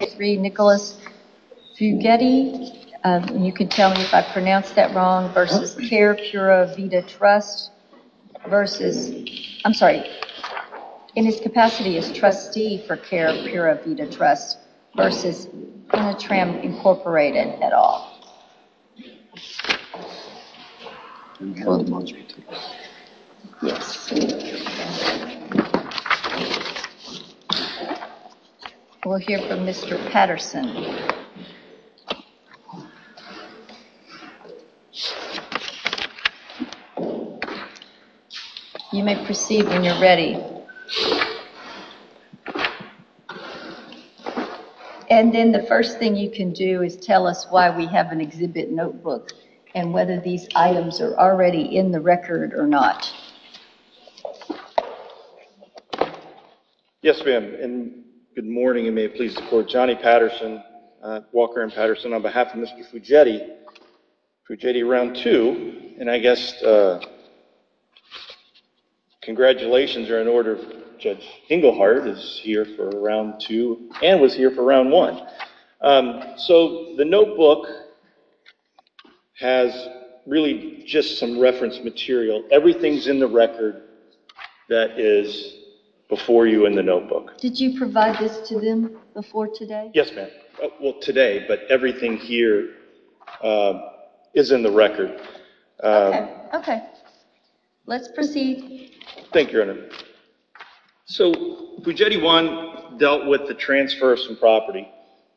v. Care Pura Vida Trust v. Initram Incorporated at all. We'll hear from Mr. Patterson. You may proceed when you're ready. And then the first thing you can do is tell us why we have an exhibit notebook and whether these items are already in the record or not. Yes, ma'am, and good morning, and may it please the Court, Johnnie Patterson, Walker and Patterson on behalf of Mr. Fugedi, Fugedi Round 2, and I guess congratulations are in order for Judge Engelhardt is here for Round 2 and was here for Round 1. So, the notebook has really just some reference material. Everything's in the record that is before you in the notebook. Did you provide this to them before today? Yes, ma'am. Well, today, but everything here is in the record. Okay. Okay. Let's proceed. Thank you, Your Honor. So, Fugedi 1 dealt with the transfer of some property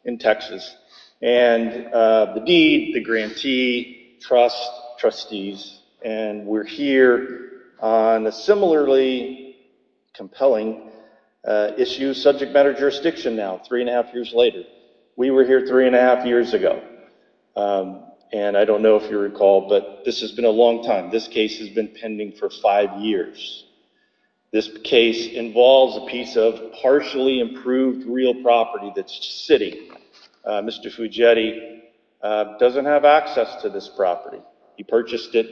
in Texas, and the deed, the grantee, trust, trustees, and we're here on a similarly compelling issue, subject matter jurisdiction now, three and a half years later. We were here three and a half years ago, and I don't know if you recall, but this has been a long time. This case has been pending for five years. This case involves a piece of partially improved real property that's sitting. Mr. Fugedi doesn't have access to this property. He purchased it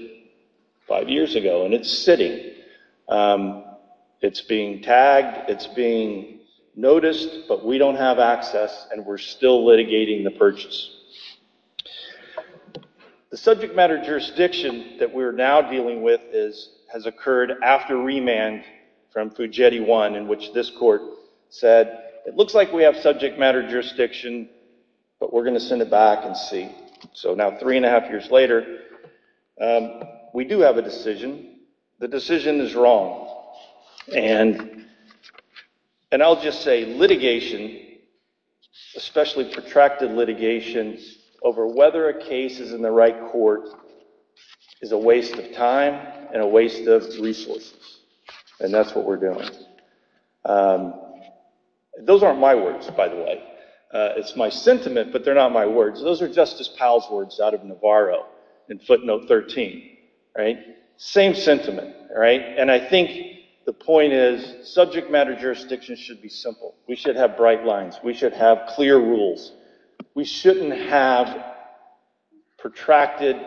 five years ago, and it's sitting. It's being tagged. It's being noticed, but we don't have access, and we're still litigating the purchase. The subject matter jurisdiction that we're now dealing with has occurred after remand from Fugedi 1, in which this court said, it looks like we have subject matter jurisdiction, but we're going to send it back and see. So now, three and a half years later, we do have a decision. The decision is wrong, and I'll just say litigation, especially protracted litigation, over whether a case is in the right court is a waste of time and a waste of resources, and that's what we're doing. Those aren't my words, by the way. It's my sentiment, but they're not my words. Those are Justice Powell's words out of Navarro in footnote 13, right? Same sentiment, right? And I think the point is subject matter jurisdiction should be simple. We should have bright lines. We should have clear rules. We shouldn't have protracted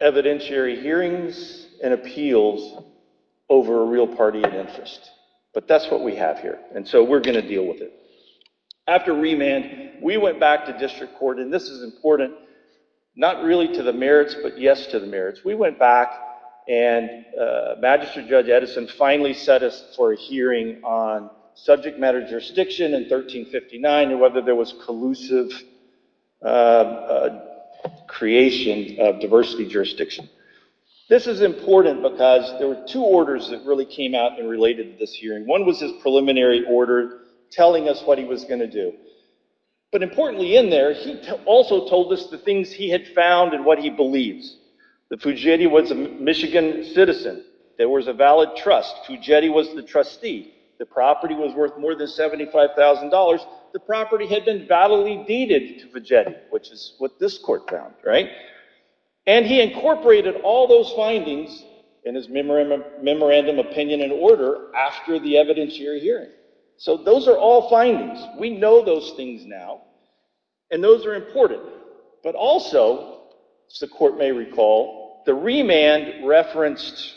evidentiary hearings and appeals over a real party of interest, but that's what we have here, and so we're going to deal with it. After remand, we went back to district court, and this is important, not really to the merits, but yes to the merits. We went back, and Magistrate Judge Edison finally set us for a hearing on subject matter jurisdiction in 1359 and whether there was collusive creation of diversity jurisdiction. This is important because there were two orders that really came out and related to this hearing. One was his preliminary order telling us what he was going to do, but importantly in there, he also told us the things he had found and what he believes. The Fujetti was a Michigan citizen. There was a valid trust. Fujetti was the trustee. The property was worth more than $75,000. The property had been validly deeded to Fujetti, which is what this court found, right? And he incorporated all those findings in his memorandum opinion and order after the evidentiary hearing. So those are all findings. We know those things now, and those are important, but also, as the court may recall, the remand referenced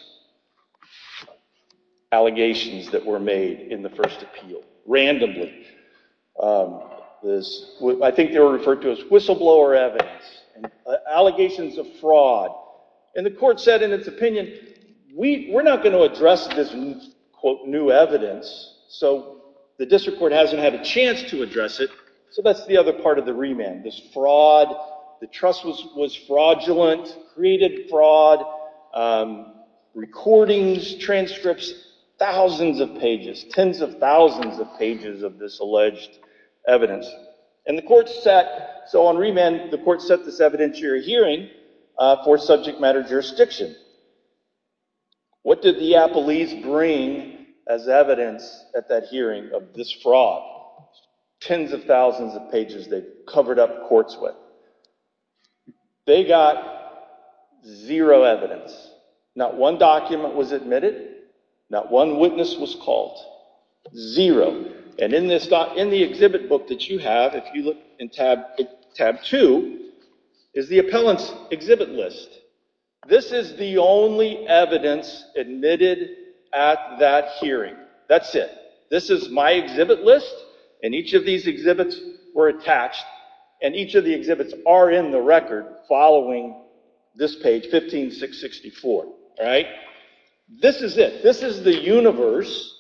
allegations that were made in the first appeal, randomly. I think they were referred to as whistleblower evidence, allegations of fraud, and the court said in its opinion, we're not going to address this new evidence, so the district court hasn't had a chance to address it, so that's the other part of the remand, this fraud, the trust was fraudulent, created fraud, recordings, transcripts, thousands of pages, tens of thousands of pages of this alleged evidence. And the court set, so on remand, the court set this evidentiary hearing for subject matter jurisdiction. What did the Appellees bring as evidence at that hearing of this fraud? Tens of thousands of pages they covered up courts with. They got zero evidence. Not one document was admitted. Not one witness was called. And in the exhibit book that you have, if you look in tab two, is the appellant's exhibit list. This is the only evidence admitted at that hearing. That's it. This is my exhibit list, and each of these exhibits were attached, and each of the exhibits are in the record following this page, 15664. This is it. This is the universe.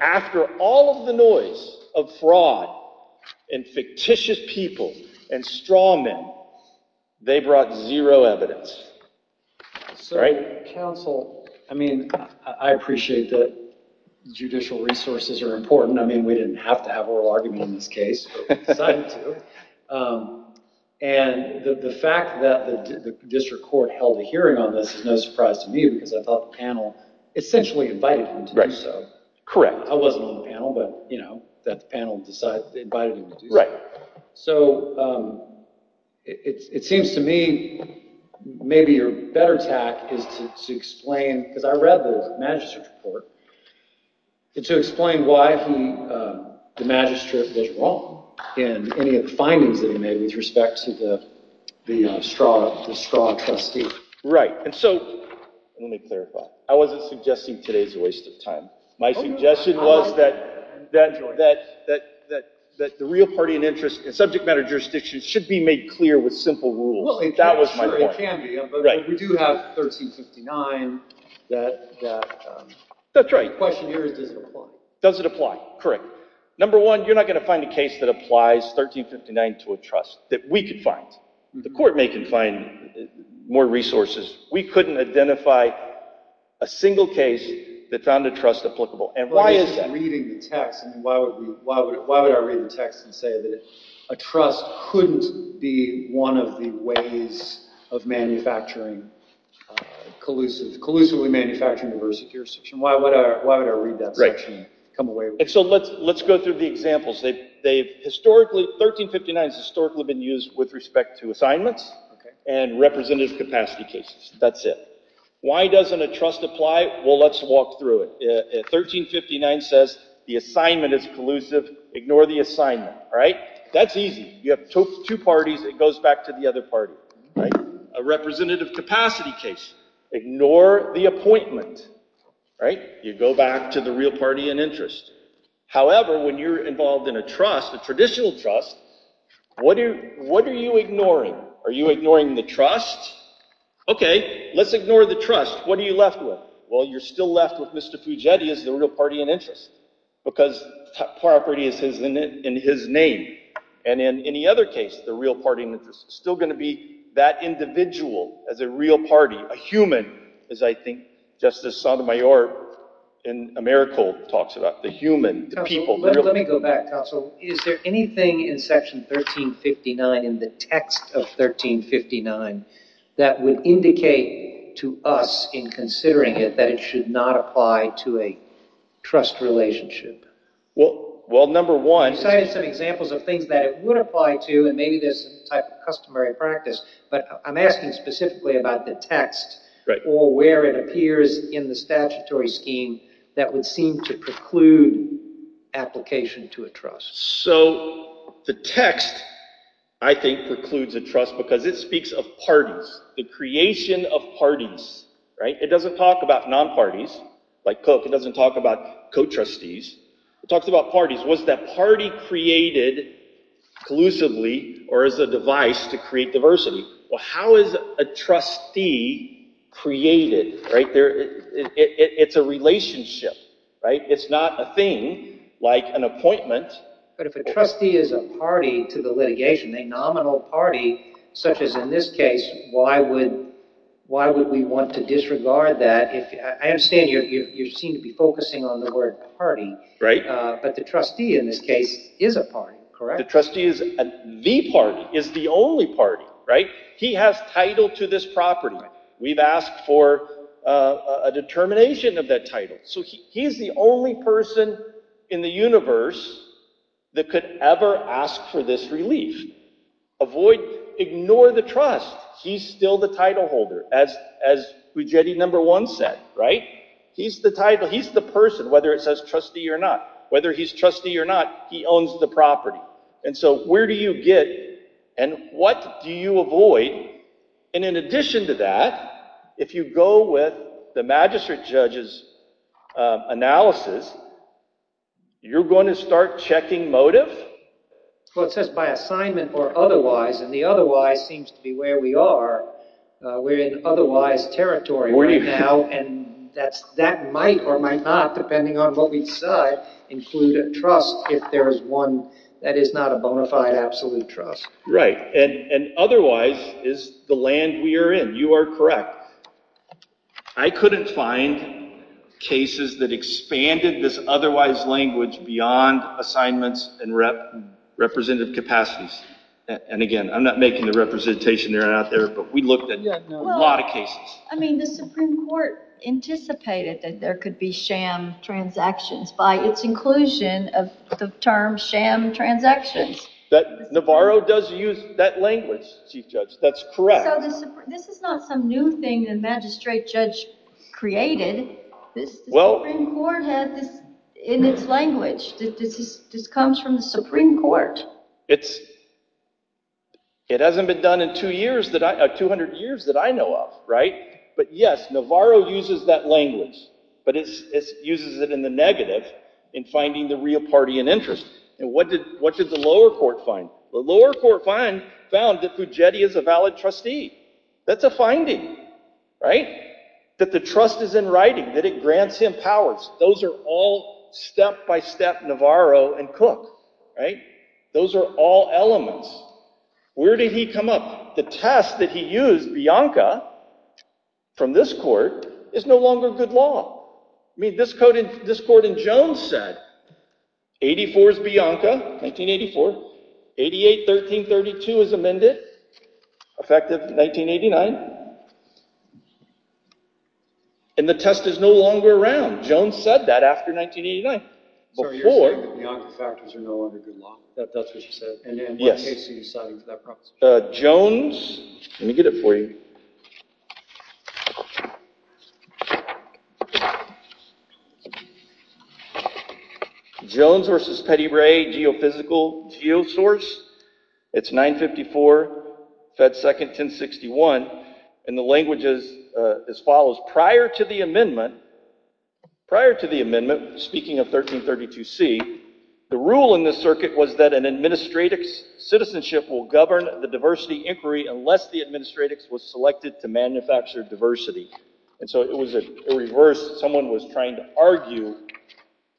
After all of the noise of fraud and fictitious people and straw men, they brought zero evidence. Sir, counsel, I mean, I appreciate that judicial resources are important. I mean, we didn't have to have oral argument in this case, but we decided to. And the fact that the district court held a hearing on this is no surprise to me because I thought the panel essentially invited him to do so. Correct. I wasn't on the panel, but, you know, the panel invited him to do so. Right. So it seems to me maybe your better tack is to explain, because I read the magistrate's report, to explain why the magistrate was wrong in any of the findings that he made with respect to the straw trustee. Right. And so let me clarify. I wasn't suggesting today's a waste of time. My suggestion was that the real party and interest in subject matter jurisdictions should be made clear with simple rules. That was my point. Sure, it can be. Right. But we do have 1359. That's right. The question here is does it apply? Does it apply? Correct. Number one, you're not going to find a case that applies 1359 to a trust that we could find. The court may confine more resources. We couldn't identify a single case that found a trust applicable. Why is reading the text, why would I read the text and say that a trust couldn't be one of the ways of manufacturing collusively manufacturing diversity jurisdiction? Why would I read that section and come away with it? So let's go through the examples. 1359 has historically been used with respect to assignments and representative capacity cases. That's it. Why doesn't a trust apply? Well, let's walk through it. 1359 says the assignment is collusive. Ignore the assignment. Right. That's easy. You have two parties. It goes back to the other party. A representative capacity case. Ignore the appointment. Right. You go back to the real party and interest. However, when you're involved in a trust, a traditional trust, what are you ignoring? Are you ignoring the trust? Okay. Let's ignore the trust. What are you left with? Well, you're still left with Mr. Pugetti as the real party and interest because property is in his name. And in any other case, the real party and interest is still going to be that individual as a real party. A human is, I think, just as Sotomayor in A Miracle talks about. The human, the people, the real people. Let me go back, Counsel. Is there anything in Section 1359, in the text of 1359, that would indicate to us in considering it that it should not apply to a trust relationship? Well, number one— You cited some examples of things that it would apply to, and maybe there's some type of customary practice. But I'm asking specifically about the text or where it appears in the statutory scheme that would seem to preclude application to a trust. So the text, I think, precludes a trust because it speaks of parties, the creation of parties. It doesn't talk about non-parties like Cook. It doesn't talk about co-trustees. It talks about parties. Was that party created collusively or as a device to create diversity? How is a trustee created? It's a relationship. It's not a thing like an appointment. But if a trustee is a party to the litigation, a nominal party, such as in this case, why would we want to disregard that? I understand you seem to be focusing on the word party. But the trustee in this case is a party, correct? The trustee is the party, is the only party, right? He has title to this property. We've asked for a determination of that title. So he's the only person in the universe that could ever ask for this relief. Avoid—ignore the trust. He's still the title holder, as Fujeti No. 1 said, right? He's the person, whether it says trustee or not. Whether he's trustee or not, he owns the property. And so where do you get and what do you avoid? And in addition to that, if you go with the magistrate judge's analysis, you're going to start checking motive? Well, it says by assignment or otherwise, and the otherwise seems to be where we are. We're in otherwise territory right now, and that might or might not, depending on what we decide, include a trust if there is one that is not a bona fide absolute trust. Right, and otherwise is the land we are in. You are correct. I couldn't find cases that expanded this otherwise language beyond assignments and representative capacities. And again, I'm not making the representation that are out there, but we looked at a lot of cases. I mean, the Supreme Court anticipated that there could be sham transactions by its inclusion of the term sham transactions. Navarro does use that language, Chief Judge. That's correct. So this is not some new thing the magistrate judge created. The Supreme Court has this in its language. This comes from the Supreme Court. It hasn't been done in 200 years that I know of, right? But yes, Navarro uses that language, but he uses it in the negative, in finding the real party in interest. And what did the lower court find? The lower court found that Fugetti is a valid trustee. That's a finding, right? That the trust is in writing, that it grants him powers. Those are all step-by-step Navarro and Cook, right? Those are all elements. Where did he come up? The test that he used, Bianca, from this court, is no longer good law. I mean, this court in Jones said, 84 is Bianca, 1984. 88, 1332 is amended, effective 1989. And the test is no longer around. Jones said that after 1989. So you're saying that Bianca's factors are no longer good law. That's what she said. And in what case are you citing for that proposition? Jones, let me get it for you. Jones v. Petty Ray, geophysical geosource. It's 954, Fed 2nd, 1061. And the language is as follows. Prior to the amendment, speaking of 1332C, the rule in the circuit was that an administratix citizenship will govern the diversity inquiry unless the administratix was selected to manufacture diversity. And so it was a reverse. Someone was trying to argue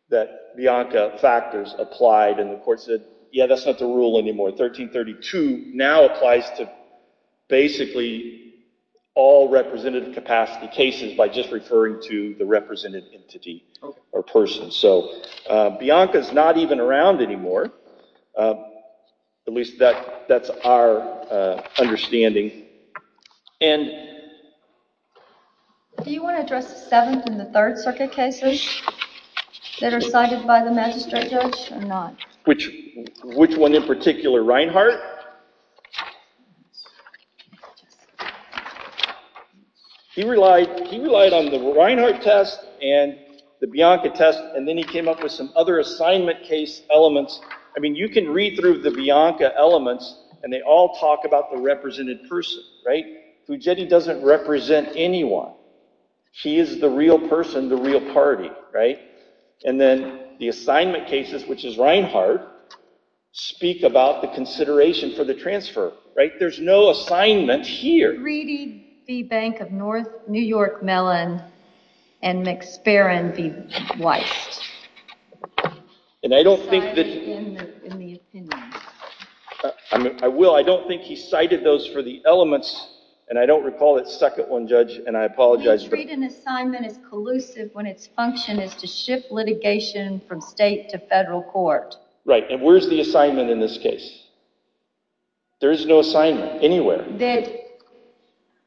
that Bianca factors applied, and the court said, yeah, that's not the rule anymore. 1332 now applies to basically all representative capacity cases by just referring to the representative entity or person. So Bianca's not even around anymore. At least that's our understanding. Do you want to address the 7th and the 3rd Circuit cases that are cited by the magistrate judge or not? Which one in particular? Reinhart? Reinhart. He relied on the Reinhart test and the Bianca test, and then he came up with some other assignment case elements. I mean, you can read through the Bianca elements, and they all talk about the represented person, right? Fugetti doesn't represent anyone. He is the real person, the real party, right? And then the assignment cases, which is Reinhart, speak about the consideration for the transfer, right? There's no assignment here. Greedy v. Bank of New York Mellon and McSparran v. Weist. And I don't think that... Cited in the opinion. I will. I don't think he cited those for the elements, and I don't recall that second one, Judge, and I apologize. We treat an assignment as collusive when its function is to shift litigation from state to federal court. Right, and where's the assignment in this case? There is no assignment anywhere. That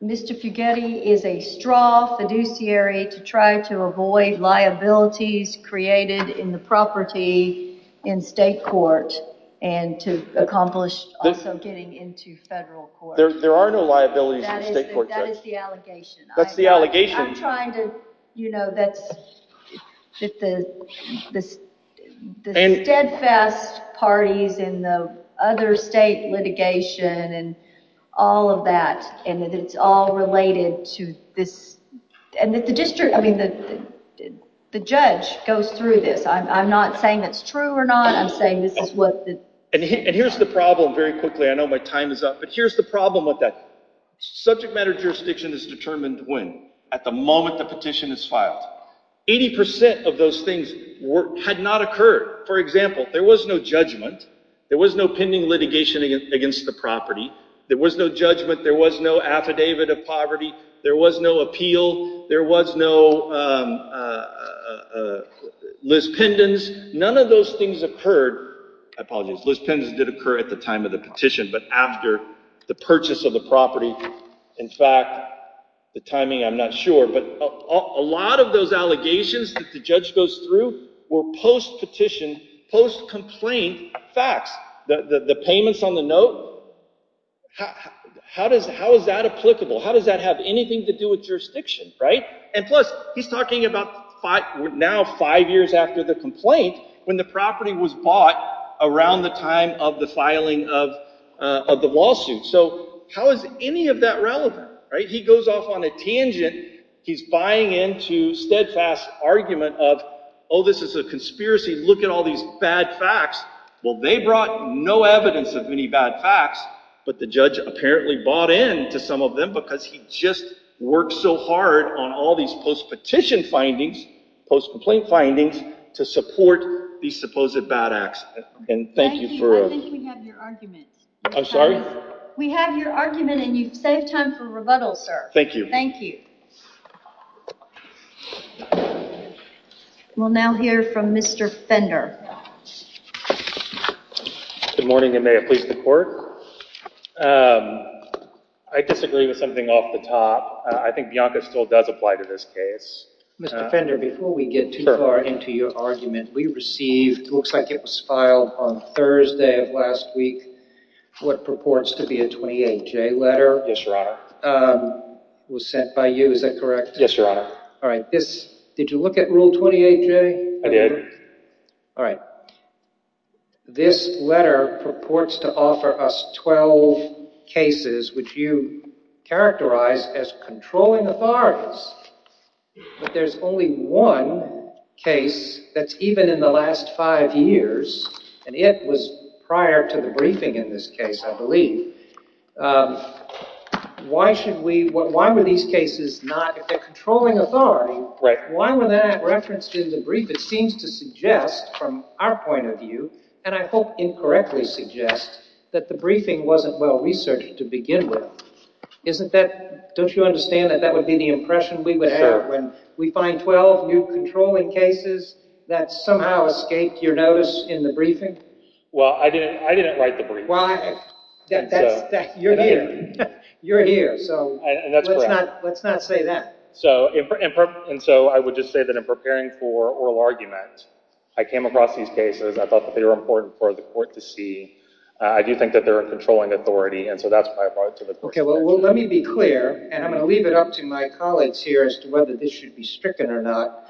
Mr. Fugetti is a straw fiduciary to try to avoid liabilities created in the property in state court and to accomplish also getting into federal court. There are no liabilities in state court, Judge. That is the allegation. That's the allegation. I'm trying to, you know, that the steadfast parties in the other state litigation and all of that, and that it's all related to this. And that the district, I mean, the judge goes through this. I'm not saying it's true or not. I'm saying this is what the... And here's the problem, very quickly. I know my time is up, but here's the problem with that. Subject matter jurisdiction is determined when? At the moment the petition is filed. Eighty percent of those things had not occurred. For example, there was no judgment. There was no pending litigation against the property. There was no judgment. There was no affidavit of poverty. There was no appeal. There was no lis pendens. None of those things occurred. I apologize. Lis pendens did occur at the time of the petition, but after the purchase of the property. In fact, the timing, I'm not sure. But a lot of those allegations that the judge goes through were post-petition, post-complaint facts. The payments on the note, how is that applicable? How does that have anything to do with jurisdiction, right? And plus, he's talking about now five years after the complaint when the property was bought around the time of the filing of the lawsuit. So how is any of that relevant, right? He goes off on a tangent. He's buying into steadfast argument of, oh, this is a conspiracy. Look at all these bad facts. Well, they brought no evidence of any bad facts, but the judge apparently bought into some of them because he just worked so hard on all these post-petition findings, post-complaint findings to support these supposed bad acts. I think we have your argument. I'm sorry? We have your argument, and you've saved time for rebuttal, sir. Thank you. Thank you. We'll now hear from Mr. Fender. Good morning, and may it please the Court. I disagree with something off the top. I think Bianca still does apply to this case. Mr. Fender, before we get too far into your argument, we received, it looks like it was filed on Thursday of last week, what purports to be a 28-J letter. Yes, Your Honor. It was sent by you, is that correct? Yes, Your Honor. All right. Did you look at Rule 28-J? I did. All right. This letter purports to offer us 12 cases, which you characterize as controlling authorities, but there's only one case that's even in the last five years, and it was prior to the briefing in this case, I believe. Why were these cases not, if they're controlling authority, why were they not referenced in the brief? It seems to suggest, from our point of view, and I hope incorrectly suggests, that the briefing wasn't well-researched to begin with. Don't you understand that that would be the impression we would have when we find 12 new controlling cases that somehow escaped your notice in the briefing? Well, I didn't write the briefing. Well, you're here. You're here, so let's not say that. And so I would just say that in preparing for oral argument, I came across these cases. I thought that they were important for the court to see. I do think that they're a controlling authority, and so that's why I brought it to the court. Okay, well, let me be clear, and I'm going to leave it up to my colleagues here as to whether this should be stricken or not.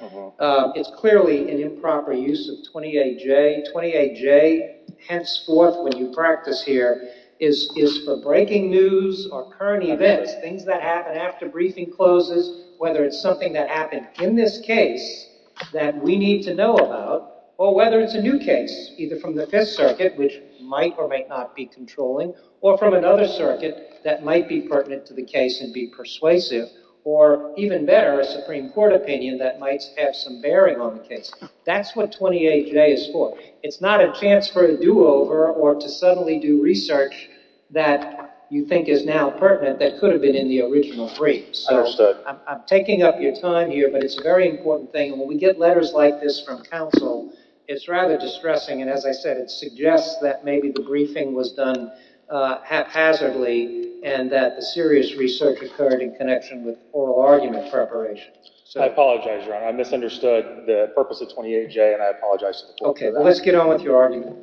It's clearly an improper use of 28J. 28J, henceforth, when you practice here, is for breaking news or current events, things that happen after briefing closes, whether it's something that happened in this case that we need to know about, or whether it's a new case, either from the Fifth Circuit, which might or may not be controlling, or from another circuit that might be pertinent to the case and be persuasive, or even better, a Supreme Court opinion that might have some bearing on the case. That's what 28J is for. It's not a chance for a do-over or to suddenly do research that you think is now pertinent that could have been in the original brief. I understand. I'm taking up your time here, but it's a very important thing. When we get letters like this from counsel, it's rather distressing, and as I said, it suggests that maybe the briefing was done haphazardly and that the serious research occurred in connection with oral argument preparation. I apologize, Your Honor. I misunderstood the purpose of 28J, and I apologize. Okay. Let's get on with your argument.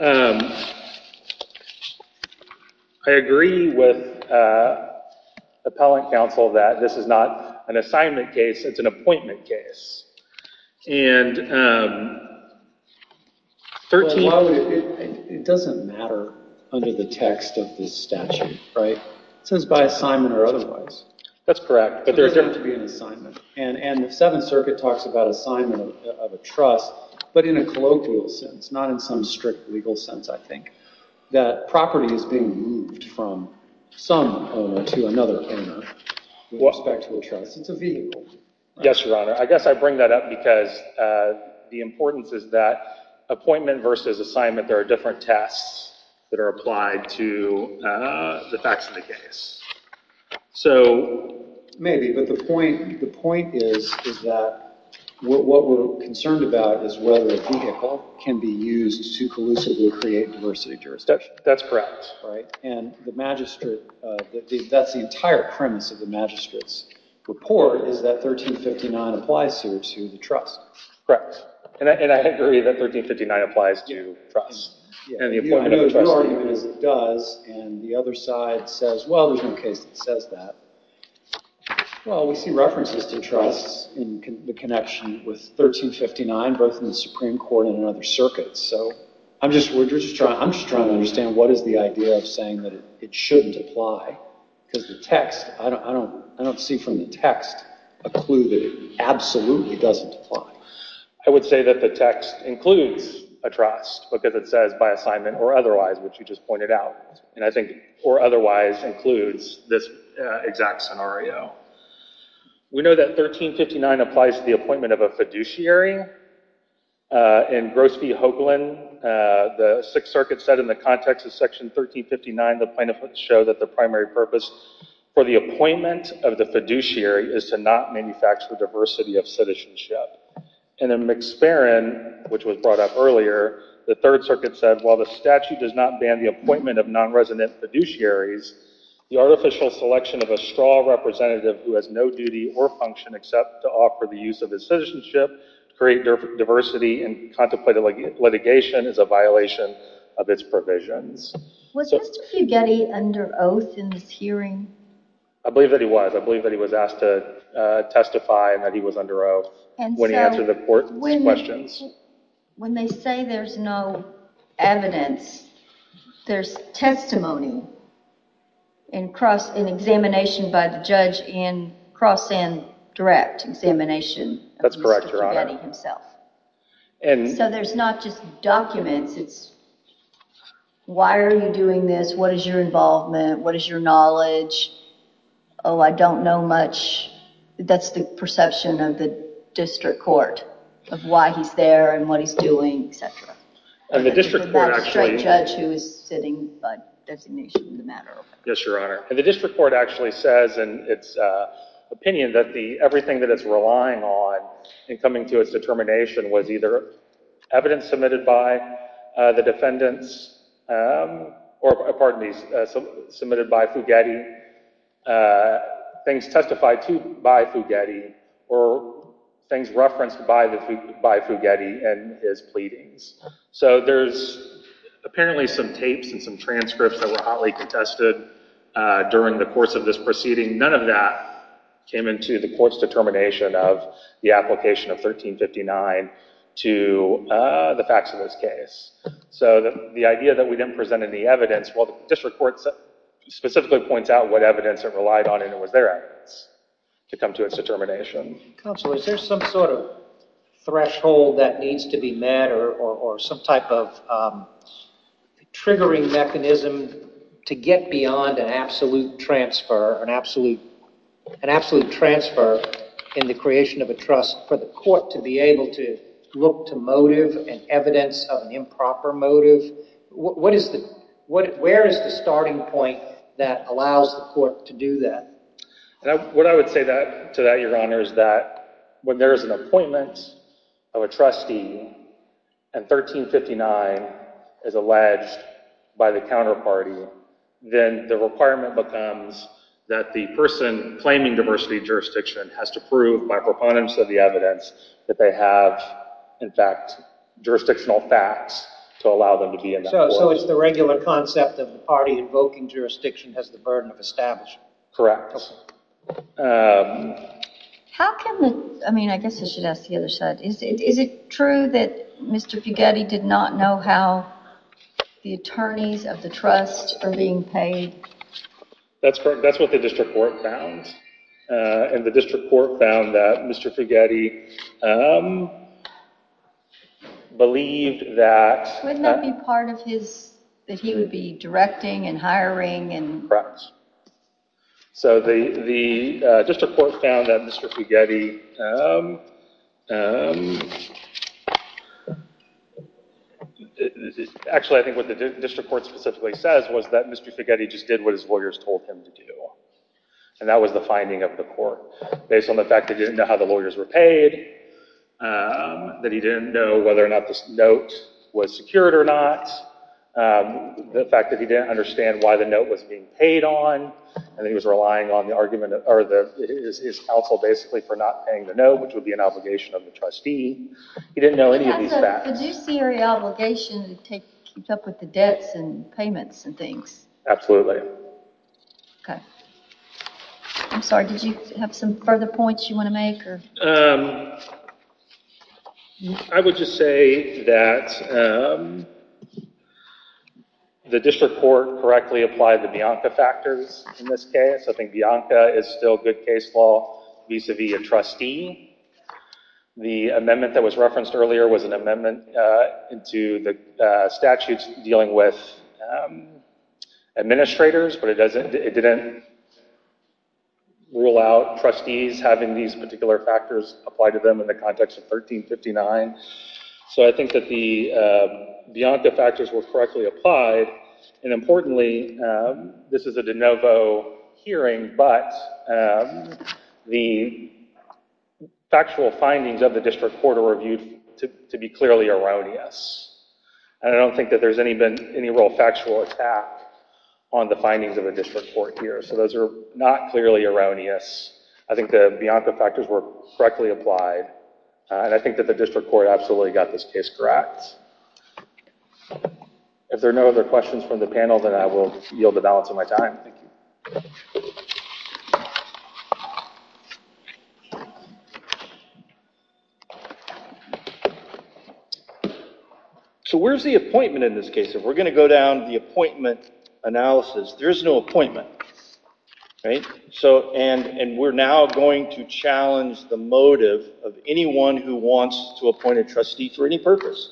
I agree with appellant counsel that this is not an assignment case. It's an appointment case. And 13... It doesn't matter under the text of this statute, right? It says by assignment or otherwise. That's correct. It doesn't have to be an assignment. And the Seventh Circuit talks about assignment of a trust, but in a colloquial sense, not in some strict legal sense, I think, that property is being moved from some owner to another owner with respect to a trust. It's a vehicle. Yes, Your Honor. I guess I bring that up because the importance is that appointment versus assignment, there are different tests that are applied to the facts of the case. So... Maybe, but the point is that what we're concerned about is whether a vehicle can be used to collusively create diversity of jurisdiction. That's correct. And the magistrate... That's the entire premise of the magistrate's report is that 1359 applies here to the trust. And I agree that 1359 applies to trust. And the appointment of the trust... Your argument is it does, and the other side says, well, there's no case that says that. Well, we see references to trusts in the connection with 1359, both in the Supreme Court and in other circuits. So I'm just trying to understand what is the idea of saying that it shouldn't apply? Because the text, I don't see from the text a clue that it absolutely doesn't apply. I would say that the text includes a trust, because it says by assignment or otherwise, which you just pointed out. And I think or otherwise includes this exact scenario. We know that 1359 applies to the appointment of a fiduciary. In Gross v. Hoagland, the Sixth Circuit said in the context of Section 1359 the plaintiff would show that the primary purpose for the appointment of the fiduciary is to not manufacture diversity of citizenship. And in McSparran, which was brought up earlier, the Third Circuit said, while the statute does not ban the appointment of non-resident fiduciaries, the artificial selection of a straw representative who has no duty or function except to offer the use of his citizenship, create diversity, and contemplate litigation is a violation of its provisions. Was Mr. Fugetti under oath in this hearing? I believe that he was. I believe that he was asked to testify and that he was under oath when he answered the court's questions. When they say there's no evidence, there's testimony in examination by the judge in cross and direct examination of Mr. Fugetti himself. So there's not just documents. It's, why are you doing this? What is your involvement? What is your knowledge? Oh, I don't know much. That's the perception of the district court, of why he's there and what he's doing, etc. And the district court actually... Without a straight judge who is sitting by designation of the matter of... Yes, Your Honor. And the district court actually says in its opinion that everything that it's relying on in coming to its determination was either evidence submitted by the defendants or, pardon me, submitted by Fugetti, things testified to by Fugetti, or things referenced by Fugetti in his pleadings. So there's apparently some tapes and some transcripts that were hotly contested during the course of this proceeding. None of that came into the court's determination of the application of 1359 to the facts of this case. So the idea that we didn't present any evidence, well, the district court specifically points out what evidence it relied on, and it was their evidence to come to its determination. Counsel, is there some sort of threshold that needs to be met or some type of triggering mechanism to get beyond an absolute transfer, an absolute transfer in the creation of a trust for the court to be able to look to motive and evidence of an improper motive? What is the... Where is the starting point that allows the court to do that? What I would say to that, Your Honor, is that when there is an appointment of a trustee and 1359 is alleged by the counterparty, then the requirement becomes that the person claiming diversity of jurisdiction has to prove by proponents of the evidence that they have, in fact, jurisdictional facts to allow them to be in that court. So it's the regular concept of the party invoking jurisdiction has the burden of establishment. Correct. How can the... I mean, I guess I should ask the other side. Is it true that Mr. Fugetti did not know how the attorneys of the trust are being paid? That's correct. That's what the district court found. And the district court found that Mr. Fugetti believed that... Wouldn't that be part of his... That he would be directing and hiring and... Correct. So the district court found that Mr. Fugetti... Actually, I think what the district court specifically says was that Mr. Fugetti just did what his lawyers told him to do. And that was the finding of the court. Based on the fact that he didn't know how the lawyers were paid, that he didn't know whether or not the note was secured or not, the fact that he didn't understand why the note was being paid on, and that he was relying on his counsel, basically, for not paying the note, which would be an obligation of the trustee. He didn't know any of these factors. Could you see an obligation to keep up with the debts and payments and things? I'm sorry, did you have some further points you want to make? I would just say that the district court correctly applied the Bianca factors in this case. I think Bianca is still good case law vis-à-vis a trustee. The amendment that was referenced earlier was an amendment into the statutes dealing with administrators, but it didn't rule out trustees having these particular factors applied to them in the context of 1359. So I think that the Bianca factors were correctly applied. And importantly, this is a de novo hearing, but the factual findings of the district court are reviewed to be clearly erroneous. And I don't think that there's been any real factual attack on the findings of the district court here. So those are not clearly erroneous. I think the Bianca factors were correctly applied, and I think that the district court absolutely got this case correct. If there are no other questions from the panel, then I will yield the balance of my time. Thank you. So where's the appointment in this case? If we're going to go down the appointment analysis, there's no appointment. And we're now going to challenge the motive of anyone who wants to appoint a trustee for any purpose.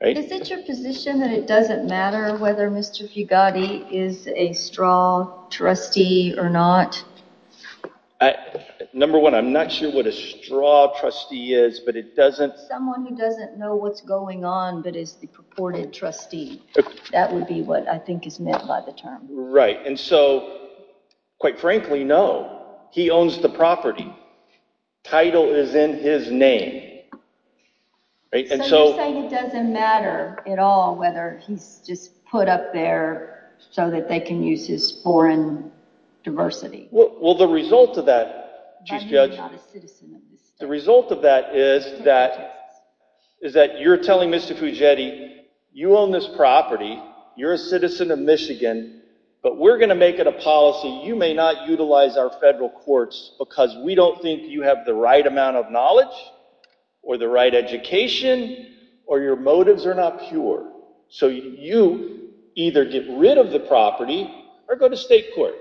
Is it your position that it doesn't matter whether Mr. Fugate is a straw trustee or not? Number one, I'm not sure what a straw trustee is, but it doesn't. Someone who doesn't know what's going on but is the purported trustee. That would be what I think is meant by the term. Right. And so, quite frankly, no. He owns the property. Title is in his name. So you're saying it doesn't matter at all whether he's just put up there so that they can use his foreign diversity. Well, the result of that, Chief Judge, the result of that is that you're telling Mr. Fugate, you own this property, you're a citizen of Michigan, but we're going to make it a policy. You may not utilize our federal courts because we don't think you have the right amount of knowledge or the right education or your motives are not pure. So you either get rid of the property or go to state court.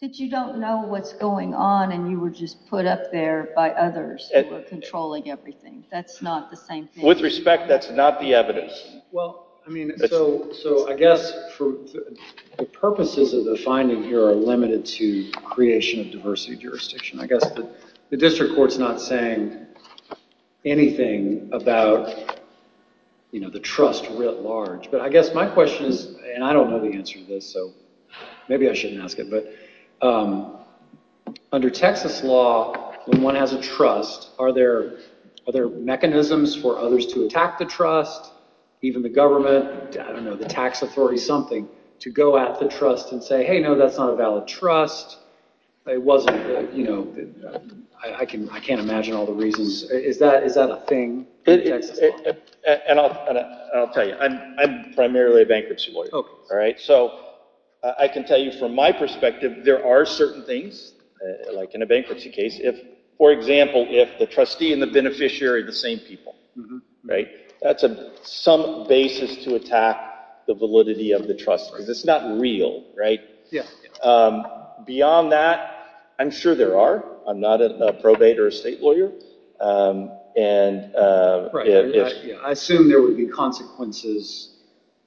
But you don't know what's going on and you were just put up there by others who were controlling everything. That's not the same thing. With respect, that's not the evidence. Well, I mean, so I guess the purposes of the finding here are limited to creation of diversity jurisdiction. I guess the district court's not saying anything about the trust writ large. But I guess my question is, and I don't know the answer to this, so maybe I shouldn't ask it, but under Texas law when one has a trust, are there mechanisms for others to attack the trust, even the government, I don't know, the tax authority, something to go at the trust and say, hey, no, that's not a valid trust. I can't imagine all the reasons. Is that a thing in Texas law? And I'll tell you, I'm primarily a bankruptcy lawyer. So I can tell you from my perspective, there are certain things, like in a bankruptcy case, for example, if the trustee and the beneficiary are the same people, that's some basis to attack the validity of the trust. It's not real. Beyond that, I'm sure there are. I'm not a probate or a state lawyer. I assume there would be consequences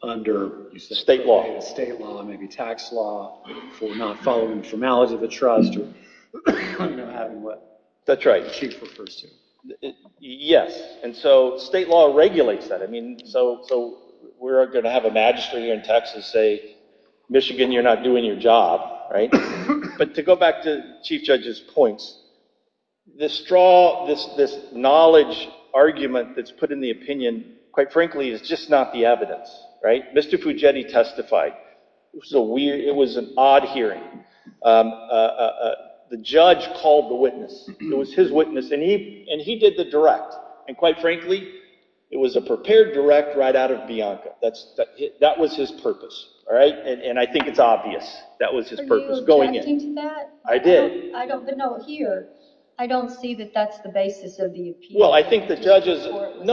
under state law, maybe tax law for not following the formalities of the trust. Yes. And so state law regulates that. So we're going to have a magistrate here in Texas say, Michigan, you're not doing your job. But to go back to Chief Judge's points, this knowledge argument that's put in the opinion, quite frankly, is just not the evidence. Mr. Pugetti testified. It was an odd hearing. The judge called the witness. It was his witness. And he did the direct. And quite frankly, it was a prepared direct right out of Bianca. That was his purpose. And I think it's obvious that was his purpose going in. Were you objecting to that? I did. No, here. I don't see that that's the basis of the appeal. No,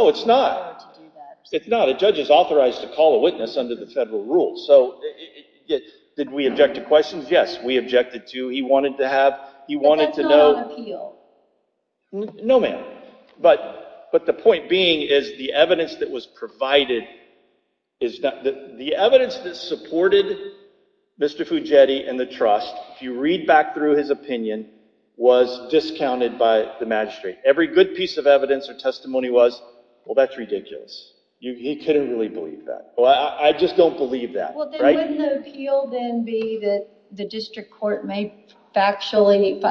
it's not. It's not. A judge is authorized to call a witness under the federal rules. Did we object to questions? Yes, we objected to. But that's not on appeal. No, ma'am. But the point being is the evidence that was provided, the evidence that supported Mr. Pugetti and the trust, if you read back through his opinion, was discounted by the magistrate. Every good piece of evidence or testimony was, well, that's ridiculous. He couldn't really believe that. Well, I just don't believe that. Well, then wouldn't the appeal then be that the district court made actually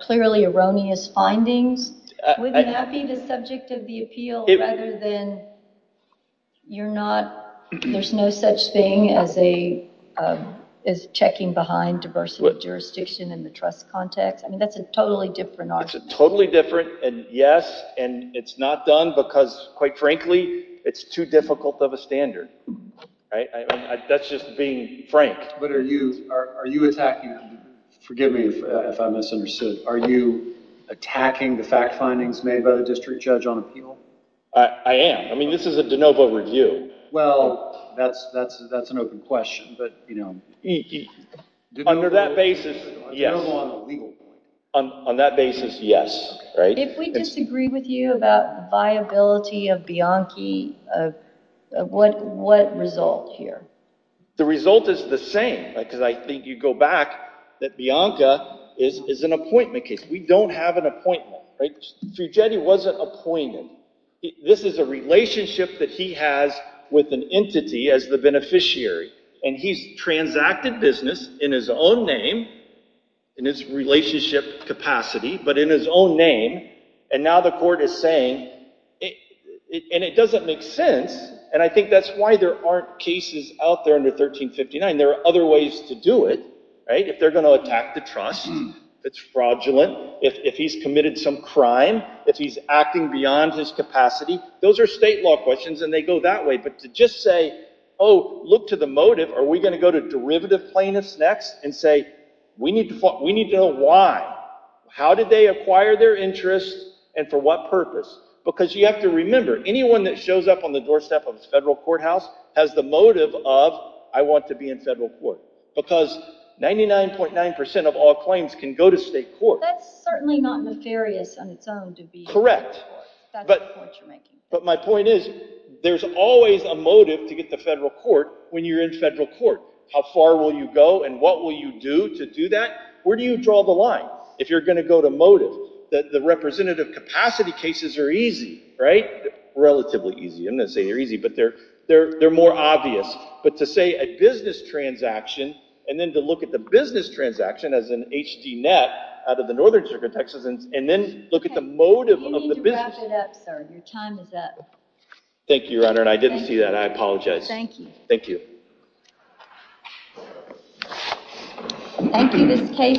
clearly erroneous findings? Wouldn't that be the subject of the appeal rather than you're not, there's no such thing as checking behind diversity of jurisdiction in the trust context? I mean, that's a totally different argument. It's totally different. And yes, and it's not done because, quite frankly, it's too difficult of a standard. That's just being frank. But are you attacking him? Forgive me if I misunderstood. Are you attacking the fact findings made by the district judge on appeal? I am. I mean, this is a de novo review. Well, that's an open question. But, you know. Under that basis, yes. On that basis, yes. If we disagree with you about viability of Bianchi, what result here? The result is the same. Because I think you go back that Bianca is an appointment case. We don't have an appointment. Fugetti wasn't appointed. This is a relationship that he has with an entity as the beneficiary. And he's transacted business in his own name, in his relationship capacity, but in his own name. And now the court is saying, and it doesn't make sense. And I think that's why there aren't cases out there under 1359. There are other ways to do it. If they're going to attack the trust, if it's fraudulent, if he's committed some crime, if he's acting beyond his capacity. Those are state law questions, and they go that way. But to just say, oh, look to the motive. Are we going to go to derivative plaintiffs next and say, we need to know why. How did they acquire their interest and for what purpose? Because you have to remember, anyone that shows up on the doorstep of a federal courthouse has the motive of, I want to be in federal court. Because 99.9% of all claims can go to state court. That's certainly not nefarious on its own to be in federal court. Correct. That's the point you're making. But my point is, there's always a motive to get to federal court when you're in federal court. How far will you go and what will you do to do that? Where do you draw the line if you're going to go to motive? The representative capacity cases are easy, right? Relatively easy. I'm not going to say they're easy, but they're more obvious. But to say a business transaction and then to look at the business transaction as an HD net out of the Northern District of Texas and then look at the motive of the business. You need to wrap it up, sir. Your time is up. Thank you, Your Honor, and I didn't see that. I apologize. Thank you. Thank you. Thank you.